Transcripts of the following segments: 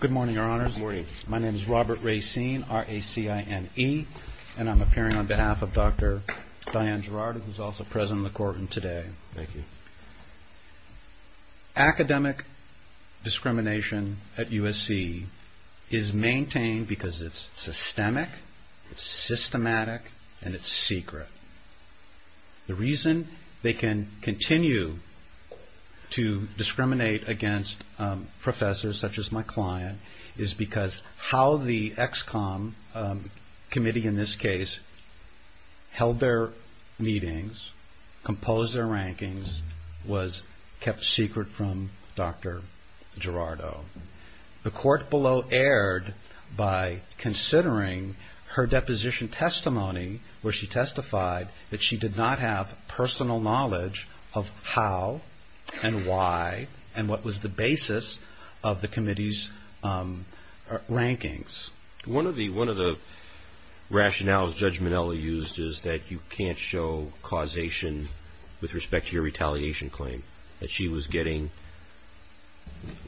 Good morning, Your Honors. My name is Robert Racine, R-A-C-I-N-E, and I'm appearing on behalf of Dr. Diane Girardo, who's also present in the courtroom today. Academic discrimination at USC is maintained because it's systemic, it's systematic, and it's secret. The reason they can continue to discriminate against professors such as my client is because how the EXCOMM committee, in this case, held their meetings, composed their rankings, was kept secret from Dr. Girardo. The court below erred by considering her deposition testimony where she testified that she did not have personal knowledge of how and why and what was the basis of the committee's rankings. One of the rationales Judge Minnelli used is that you can't show causation with respect to your retaliation claim. That she was getting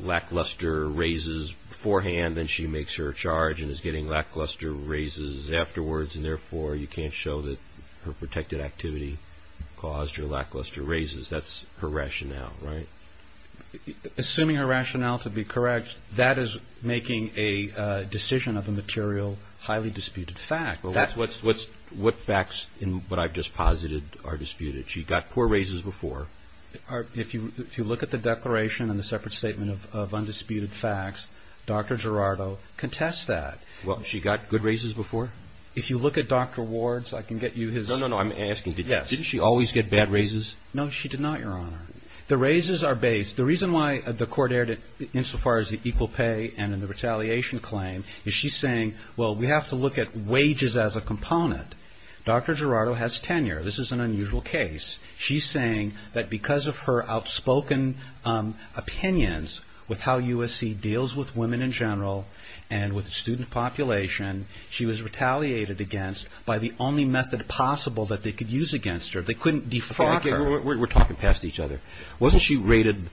lackluster raises beforehand and she makes her charge and is getting lackluster raises afterwards and therefore you can't show that her protected activity caused her lackluster raises. That's her rationale, right? Assuming her rationale to be correct, that is making a decision of a material highly disputed fact. What facts in what I've just posited are disputed? She got poor raises before. If you look at the declaration and the separate statement of undisputed facts, Dr. Girardo contests that. Well, she got good raises before? If you look at Dr. Ward's, I can get you his... No, no, no, I'm asking, didn't she always get bad raises? No, she did not, Your Honor. The raises are based... The reason why the court erred insofar as the equal pay and in the retaliation claim is she's saying, well, we have to look at wages as a component. Dr. Girardo has tenure. This is an unusual case. She's saying that because of her outspoken opinions with how USC deals with women in general and with the student population, she was retaliated against by the only method possible that they could use against her. They couldn't defraud her. We're talking past each other. Wasn't she rated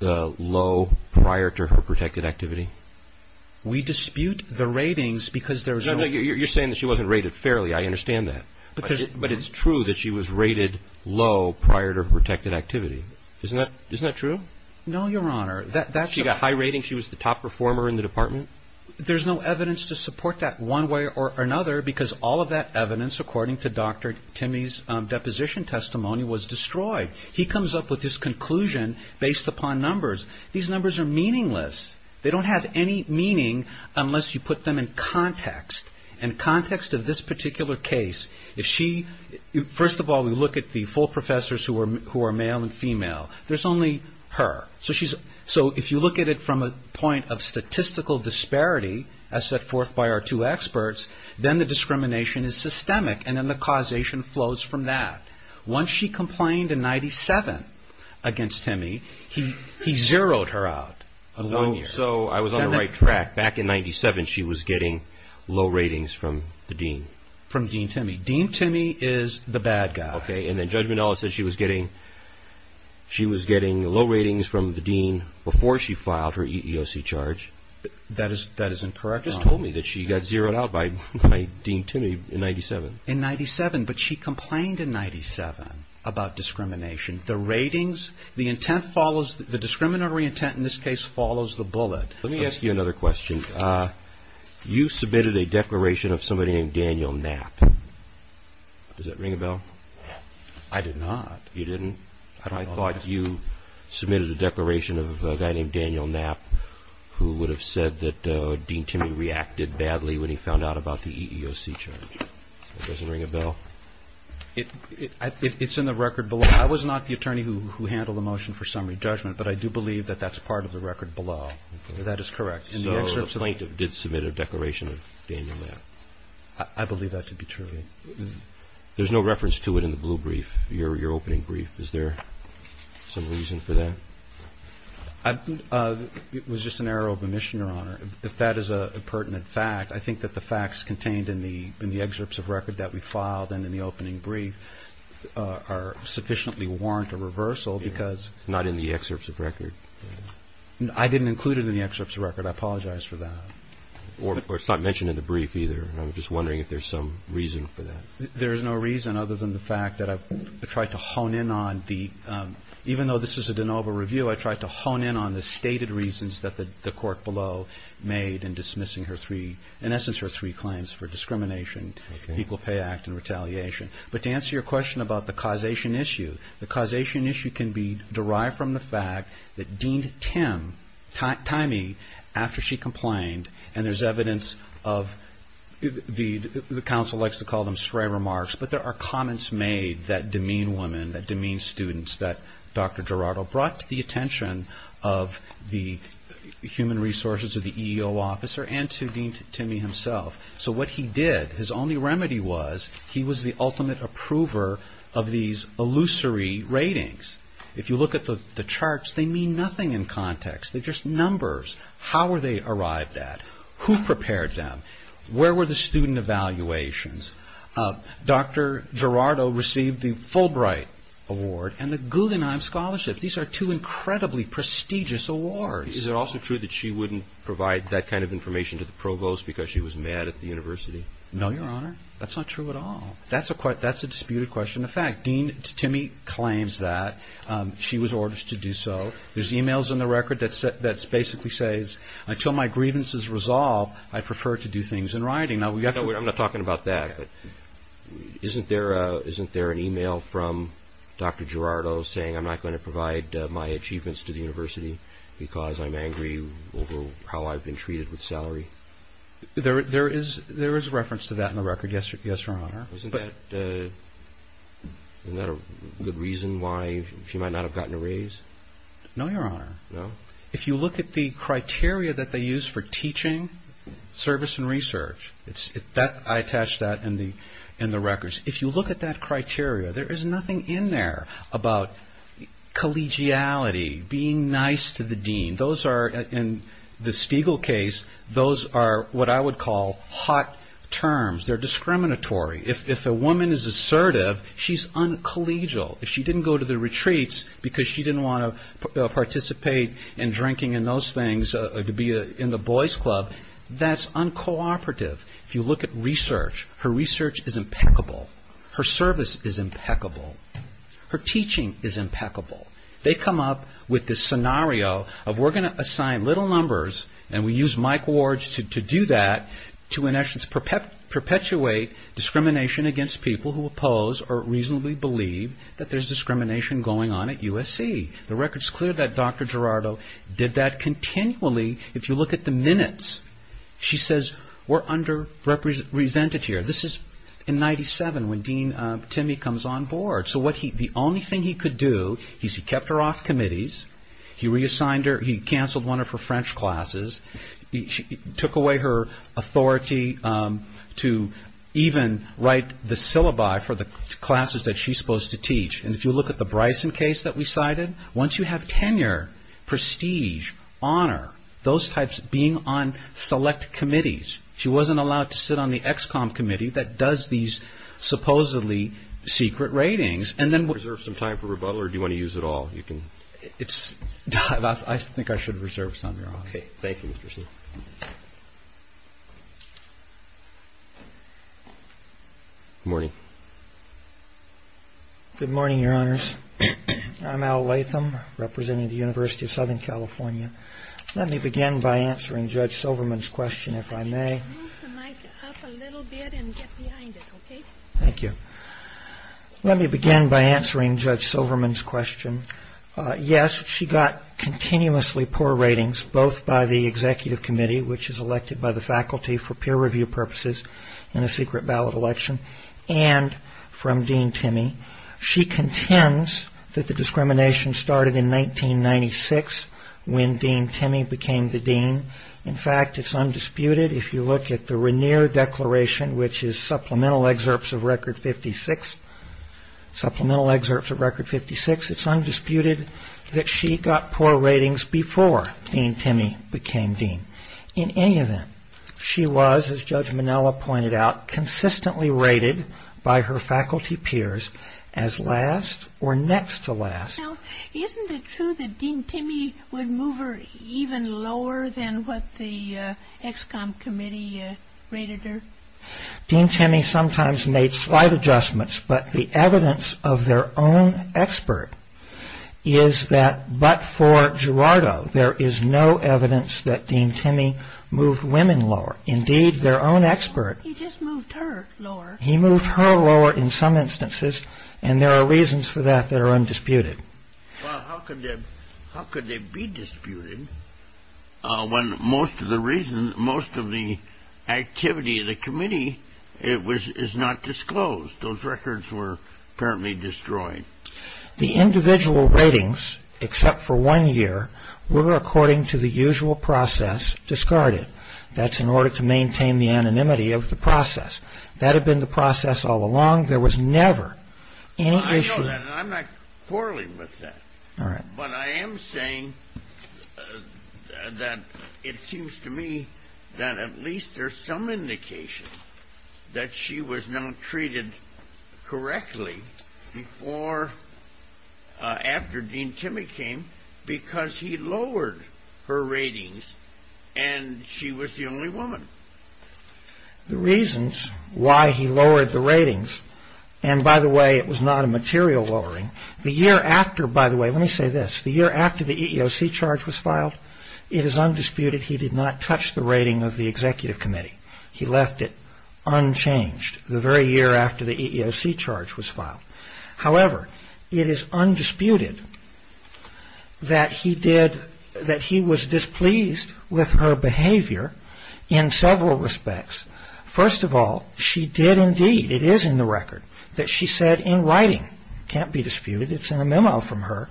low prior to her protected activity? We dispute the ratings because there was no... No, no, you're saying that she wasn't rated fairly. I understand that. But it's true that she was rated low prior to her protected activity. Isn't that true? No, Your Honor. She got high ratings? She was the top performer in the department? There's no evidence to support that one way or another because all of that evidence, according to Dr. Timmy's deposition testimony, was destroyed. He comes up with this conclusion based upon numbers. These numbers are meaningless. They don't have any meaning unless you put them in context. In context of this particular case, if she... First of all, we look at the full professors who are male and female. There's only her. So if you look at it from a point of statistical disparity as set forth by our two experts, then the discrimination is systemic, and then the causation flows from that. Once she complained in 1997 against Timmy, he zeroed her out. So I was on the right track. Back in 1997, she was getting low ratings from the dean? From Dean Timmy. Dean Timmy is the bad guy. Okay, and then Judge Minnelli said she was getting low ratings from the dean before she filed her EEOC charge. That is incorrect. She just told me that she got zeroed out by Dean Timmy in 1997. In 1997, but she complained in 1997 about discrimination. The ratings, the intent follows, the discriminatory intent in this case follows the bullet. Let me ask you another question. You submitted a declaration of somebody named Daniel Knapp. Does that ring a bell? I did not. You didn't? I thought you submitted a declaration of a guy named Daniel Knapp, who would have said that Dean Timmy reacted badly when he found out about the EEOC charge. That doesn't ring a bell? It's in the record below. I was not the attorney who handled the motion for summary judgment, but I do believe that that's part of the record below. That is correct. So the plaintiff did submit a declaration of Daniel Knapp? I believe that to be true. There's no reference to it in the blue brief, your opening brief. Is there some reason for that? It was just an error of omission, Your Honor. If that is a pertinent fact, I think that the facts contained in the excerpts of record that we filed and in the opening brief are sufficiently warrant a reversal because – Not in the excerpts of record? I didn't include it in the excerpts of record. I apologize for that. Or it's not mentioned in the brief either. I'm just wondering if there's some reason for that. There is no reason other than the fact that I've tried to hone in on the – even though this is a de novo review, I tried to hone in on the stated reasons that the court below made in dismissing her three – in essence her three claims for discrimination, Equal Pay Act, and retaliation. But to answer your question about the causation issue, the causation issue can be derived from the fact that Dean Timmy, after she complained, and there's evidence of – the counsel likes to call them stray remarks, but there are comments made that demean women, that demean students, that Dr. Gerardo brought to the attention of the human resources or the EEO officer and to Dean Timmy himself. So what he did, his only remedy was he was the ultimate approver of these illusory ratings. If you look at the charts, they mean nothing in context. They're just numbers. How were they arrived at? Who prepared them? Where were the student evaluations? Dr. Gerardo received the Fulbright Award and the Guggenheim Scholarship. These are two incredibly prestigious awards. Is it also true that she wouldn't provide that kind of information to the provost because she was mad at the university? No, Your Honor. That's not true at all. That's a disputed question. In fact, Dean Timmy claims that. She was ordered to do so. There's e-mails in the record that basically says, until my grievance is resolved, I prefer to do things in writing. I'm not talking about that. Isn't there an e-mail from Dr. Gerardo saying, I'm not going to provide my achievements to the university because I'm angry over how I've been treated with salary? There is reference to that in the record, yes, Your Honor. Isn't that a good reason why she might not have gotten a raise? No, Your Honor. No? If you look at the criteria that they use for teaching service and research, I attach that in the records. If you look at that criteria, there is nothing in there about collegiality, being nice to the dean. In the Stiegel case, those are what I would call hot terms. They're discriminatory. If a woman is assertive, she's uncollegial. If she didn't go to the retreats because she didn't want to participate in drinking and those things, to be in the boys club, that's uncooperative. If you look at research, her research is impeccable. Her service is impeccable. Her teaching is impeccable. They come up with this scenario of we're going to assign little numbers, and we use Mike Ward to do that to, in essence, perpetuate discrimination against people who oppose or reasonably believe that there's discrimination going on at USC. The record's clear that Dr. Gerardo did that continually. If you look at the minutes, she says we're underrepresented here. This is in 97 when Dean Timmy comes on board. So the only thing he could do is he kept her off committees. He reassigned her. He canceled one of her French classes. He took away her authority to even write the syllabi for the classes that she's supposed to teach. And if you look at the Bryson case that we cited, once you have tenure, prestige, honor, those types being on select committees, she wasn't allowed to sit on the EXCOMM committee that does these supposedly secret ratings. Do you want to reserve some time for rebuttal, or do you want to use it all? I think I should reserve some of your time. Okay. Thank you, Mr. C. Good morning. Good morning, Your Honors. I'm Al Latham, representing the University of Southern California. Let me begin by answering Judge Silverman's question, if I may. Move the mic up a little bit and get behind it, okay? Thank you. Let me begin by answering Judge Silverman's question. Yes, she got continuously poor ratings, both by the executive committee, which is elected by the faculty for peer review purposes in a secret ballot election, and from Dean Timmey. She contends that the discrimination started in 1996 when Dean Timmey became the dean. In fact, it's undisputed. If you look at the Regnier Declaration, which is supplemental excerpts of Record 56, supplemental excerpts of Record 56, it's undisputed that she got poor ratings before Dean Timmey became dean. In any event, she was, as Judge Minella pointed out, consistently rated by her faculty peers as last or next to last. Now, isn't it true that Dean Timmey would move her even lower than what the EXCOMM committee rated her? Dean Timmey sometimes made slight adjustments, but the evidence of their own expert is that, but for Girardo, there is no evidence that Dean Timmey moved women lower. Indeed, their own expert... He just moved her lower. He moved her lower in some instances, and there are reasons for that that are undisputed. Well, how could they be disputed when most of the activity of the committee is not disclosed? Those records were apparently destroyed. The individual ratings, except for one year, were, according to the usual process, discarded. That's in order to maintain the anonymity of the process. That had been the process all along. There was never any issue... I'm not quarreling with that, but I am saying that it seems to me that at least there's some indication that she was not treated correctly after Dean Timmey came because he lowered her ratings and she was the only woman. The reasons why he lowered the ratings, and by the way, it was not a material lowering. The year after, by the way, let me say this. The year after the EEOC charge was filed, it is undisputed he did not touch the rating of the executive committee. He left it unchanged the very year after the EEOC charge was filed. However, it is undisputed that he was displeased with her behavior in several respects. First of all, she did indeed, it is in the record, that she said in writing, it can't be disputed, it's in a memo from her,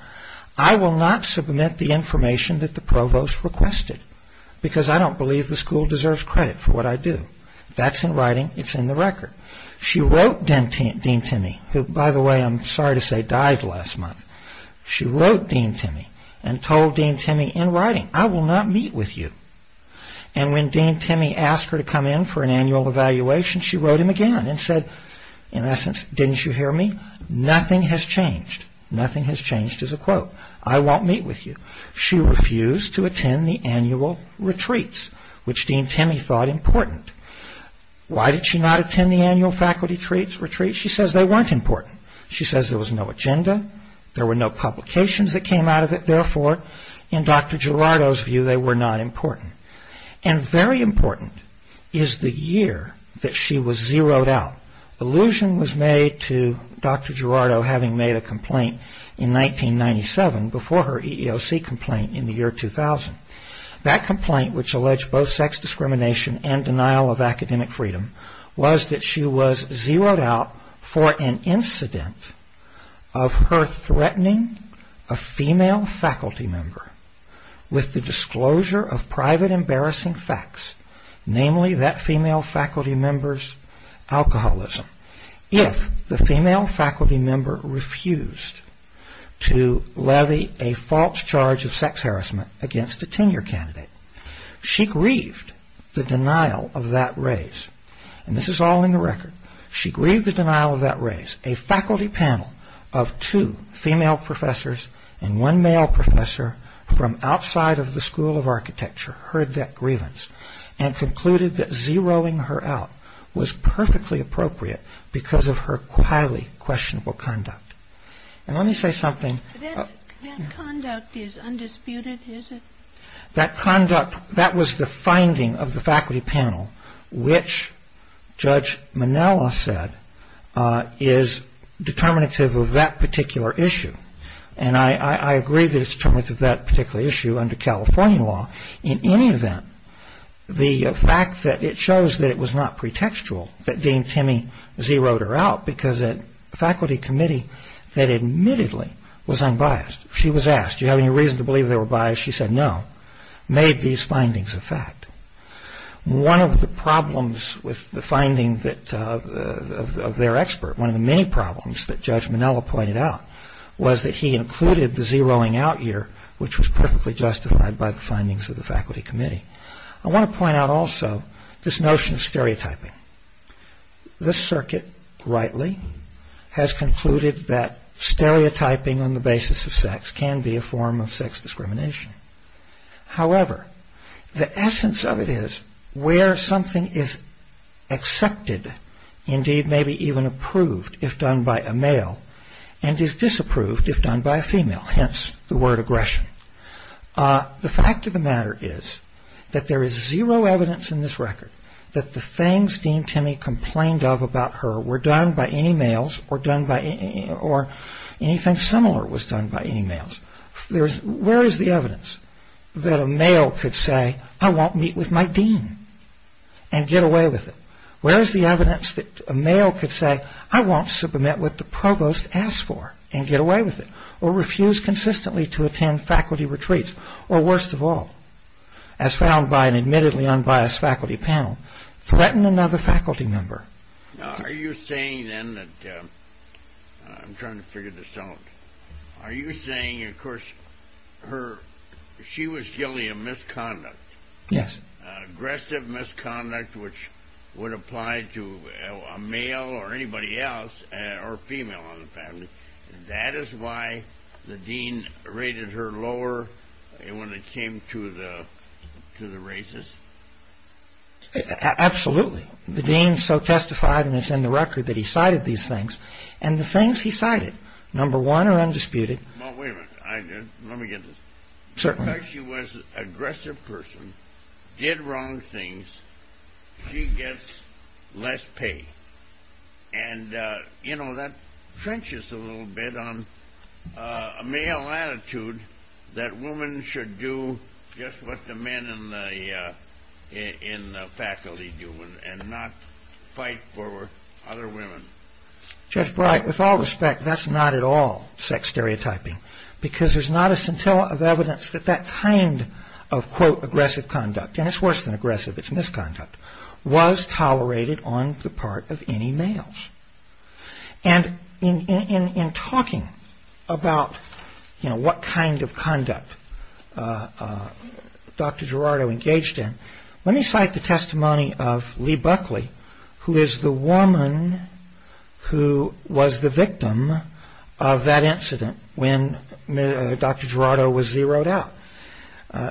I will not submit the information that the provost requested because I don't believe the school deserves credit for what I do. That's in writing, it's in the record. She wrote Dean Timmey, who, by the way, I'm sorry to say died last month. She wrote Dean Timmey and told Dean Timmey in writing, I will not meet with you. And when Dean Timmey asked her to come in for an annual evaluation, she wrote him again and said, in essence, didn't you hear me? Nothing has changed. Nothing has changed is a quote. I won't meet with you. She refused to attend the annual retreats, which Dean Timmey thought important. Why did she not attend the annual faculty retreats? She says they weren't important. She says there was no agenda, there were no publications that came out of it, and therefore, in Dr. Gerardo's view, they were not important. And very important is the year that she was zeroed out. Allusion was made to Dr. Gerardo having made a complaint in 1997 before her EEOC complaint in the year 2000. That complaint, which alleged both sex discrimination and denial of academic freedom, was that she was zeroed out for an incident of her threatening a female faculty member with the disclosure of private embarrassing facts, namely that female faculty member's alcoholism. If the female faculty member refused to levy a false charge of sex harassment against a tenure candidate, she grieved the denial of that raise. And this is all in the record. She grieved the denial of that raise. A faculty panel of two female professors and one male professor from outside of the School of Architecture heard that grievance and concluded that zeroing her out was perfectly appropriate because of her highly questionable conduct. And let me say something. That conduct is undisputed, is it? That conduct, that was the finding of the faculty panel, which Judge Minella said is determinative of that particular issue. And I agree that it's determinative of that particular issue under California law. In any event, the fact that it shows that it was not pretextual that Dean Timmy zeroed her out because a faculty committee that admittedly was unbiased, she was asked, do you have any reason to believe they were biased? She said no. Made these findings a fact. One of the problems with the findings of their expert, one of the many problems that Judge Minella pointed out was that he included the zeroing out here, which was perfectly justified by the findings of the faculty committee. I want to point out also this notion of stereotyping. The circuit rightly has concluded that stereotyping on the basis of sex can be a form of sex discrimination. However, the essence of it is where something is accepted, indeed maybe even approved if done by a male, and is disapproved if done by a female, hence the word aggression. The fact of the matter is that there is zero evidence in this record that the things Dean Timmy complained of about her were done by any males or anything similar was done by any males. Where is the evidence that a male could say, I won't meet with my dean and get away with it? Where is the evidence that a male could say, I won't submit what the provost asked for and get away with it? Or refuse consistently to attend faculty retreats? Or worst of all, as found by an admittedly unbiased faculty panel, threaten another faculty member? Are you saying then that, I'm trying to figure this out, are you saying of course she was guilty of misconduct? Yes. Aggressive misconduct which would apply to a male or anybody else, or female in the family, that is why the dean rated her lower when it came to the races? Absolutely. The dean so testified, and it's in the record, that he cited these things. And the things he cited, number one, are undisputed. Well, wait a minute. Let me get this. Certainly. Because she was an aggressive person, did wrong things, she gets less pay. And, you know, that trenches a little bit on a male attitude that women should do just what the men in the faculty do and not fight for other women. Judge Bright, with all respect, that's not at all sex stereotyping because there's not a scintilla of evidence that that kind of, quote, aggressive conduct, and it's worse than aggressive, it's misconduct, was tolerated on the part of any males. And in talking about, you know, what kind of conduct Dr. Gerardo engaged in, let me cite the testimony of Lee Buckley, who is the woman who was the victim of that incident when Dr. Gerardo was zeroed out.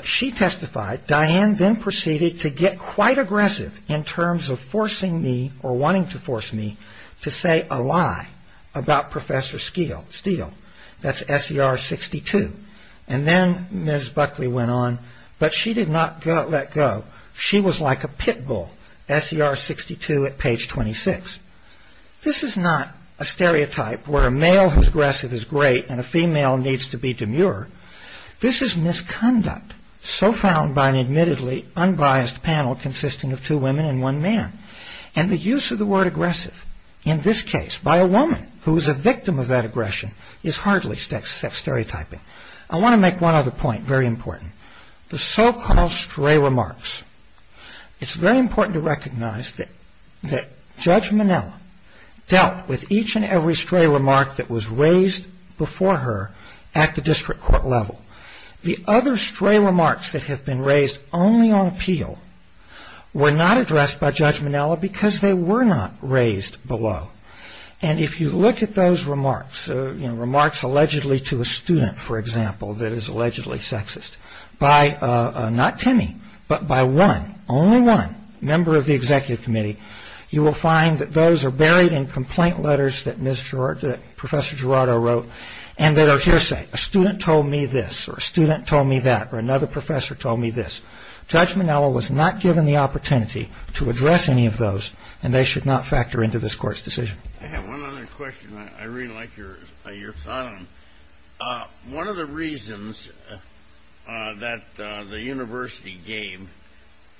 She testified, Diane then proceeded to get quite aggressive in terms of forcing me or wanting to force me to say a lie about Professor Steele. That's SER 62. And then Ms. Buckley went on, but she did not let go. She was like a pit bull. SER 62 at page 26. This is not a stereotype where a male who's aggressive is great and a female needs to be demure. This is misconduct so found by an admittedly unbiased panel consisting of two women and one man. And the use of the word aggressive, in this case, by a woman who is a victim of that aggression is hardly stereotyping. I want to make one other point, very important. The so-called stray remarks. It's very important to recognize that Judge Minnell dealt with each and every stray remark that was raised before her at the district court level. The other stray remarks that have been raised only on appeal were not addressed by Judge Minnell because they were not raised below. And if you look at those remarks, you know, remarks allegedly to a student, for example, that is allegedly sexist by not Timmy, but by one, only one member of the executive committee, you will find that those are buried in complaint letters that Professor Girardo wrote and that are hearsay, a student told me this or a student told me that or another professor told me this. Judge Minnell was not given the opportunity to address any of those and they should not factor into this court's decision. I have one other question I really like your thought on. One of the reasons that the university gave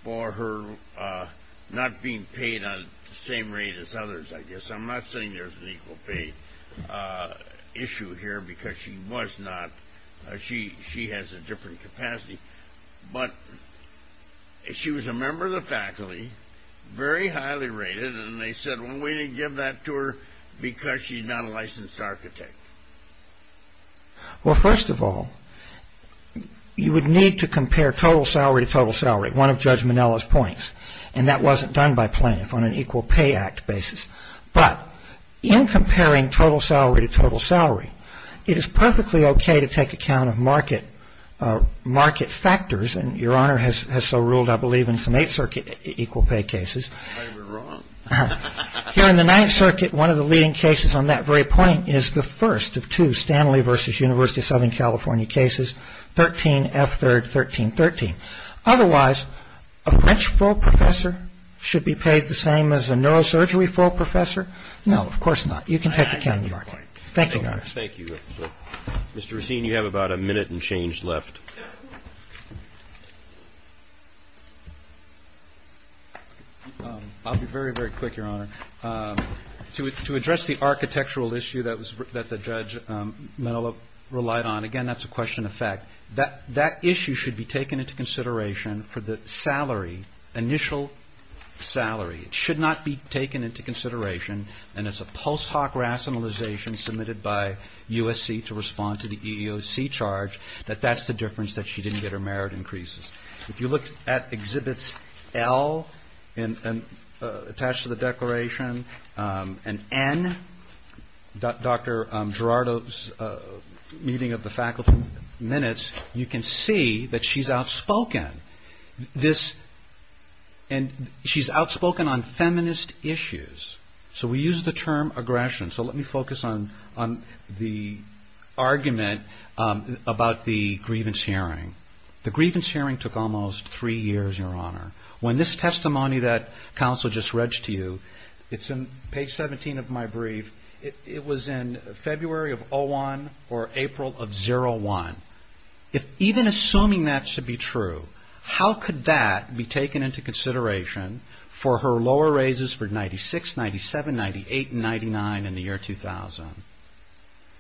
for her not being paid on the same rate as others, I guess, I'm not saying there's an equal pay issue here because she was not, she has a different capacity, but she was a member of the faculty, very highly rated and they said, well, we didn't give that to her because she's not a licensed architect. Well, first of all, you would need to compare total salary to total salary, one of Judge Minnell's points, and that wasn't done by plaintiff on an equal pay act basis. But in comparing total salary to total salary, it is perfectly okay to take account of market factors and your honor has so ruled, I believe, in some 8th Circuit equal pay cases. Here in the 9th Circuit, one of the leading cases on that very point is the first of two, Stanley versus University of Southern California cases, 13, F3rd, 13, 13. Otherwise, a French full professor should be paid the same as a neurosurgery full professor? No, of course not. You can take account of the market. Thank you, Your Honor. Thank you. Mr. Racine, you have about a minute and change left. I'll be very, very quick, Your Honor. To address the architectural issue that the Judge Minnell relied on, again, that's a question of fact. That issue should be taken into consideration for the salary, initial salary. It should not be taken into consideration. And it's a post hoc rationalization submitted by USC to respond to the EEOC charge that that's the difference that she didn't get her merit increases. If you look at Exhibits L attached to the declaration and N, Dr. Gerardo's meeting of the faculty minutes, you can see that she's outspoken. And she's outspoken on feminist issues. So we use the term aggression. So let me focus on the argument about the grievance hearing. The grievance hearing took almost three years, Your Honor. When this testimony that counsel just read to you, it's in page 17 of my brief. It was in February of 01 or April of 01. If even assuming that should be true, how could that be taken into consideration for her lower raises for 96, 97, 98, and 99 in the year 2000?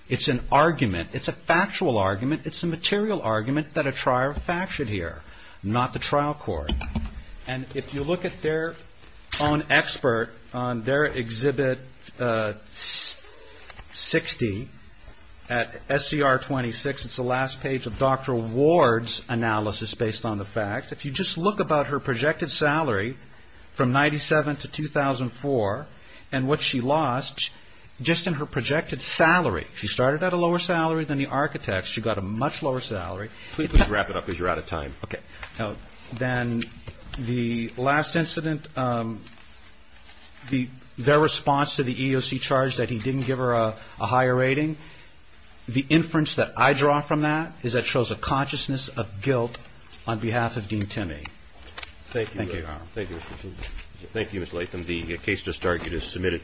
It's an argument. It's a factual argument. It's a material argument that a trial fact should hear, not the trial court. And if you look at their own expert on their Exhibit 60 at SCR 26, it's the last page of Dr. Ward's analysis based on the fact, if you just look about her projected salary from 97 to 2004 and what she lost just in her projected salary. She started at a lower salary than the architects. She got a much lower salary. Please wrap it up because you're out of time. Okay. Then the last incident, their response to the EEOC charge that he didn't give her a higher rating, the inference that I draw from that is that shows a consciousness of guilt on behalf of Dean Timmy. Thank you, Your Honor. Thank you. Thank you, Mr. Latham. The case just started. It is submitted.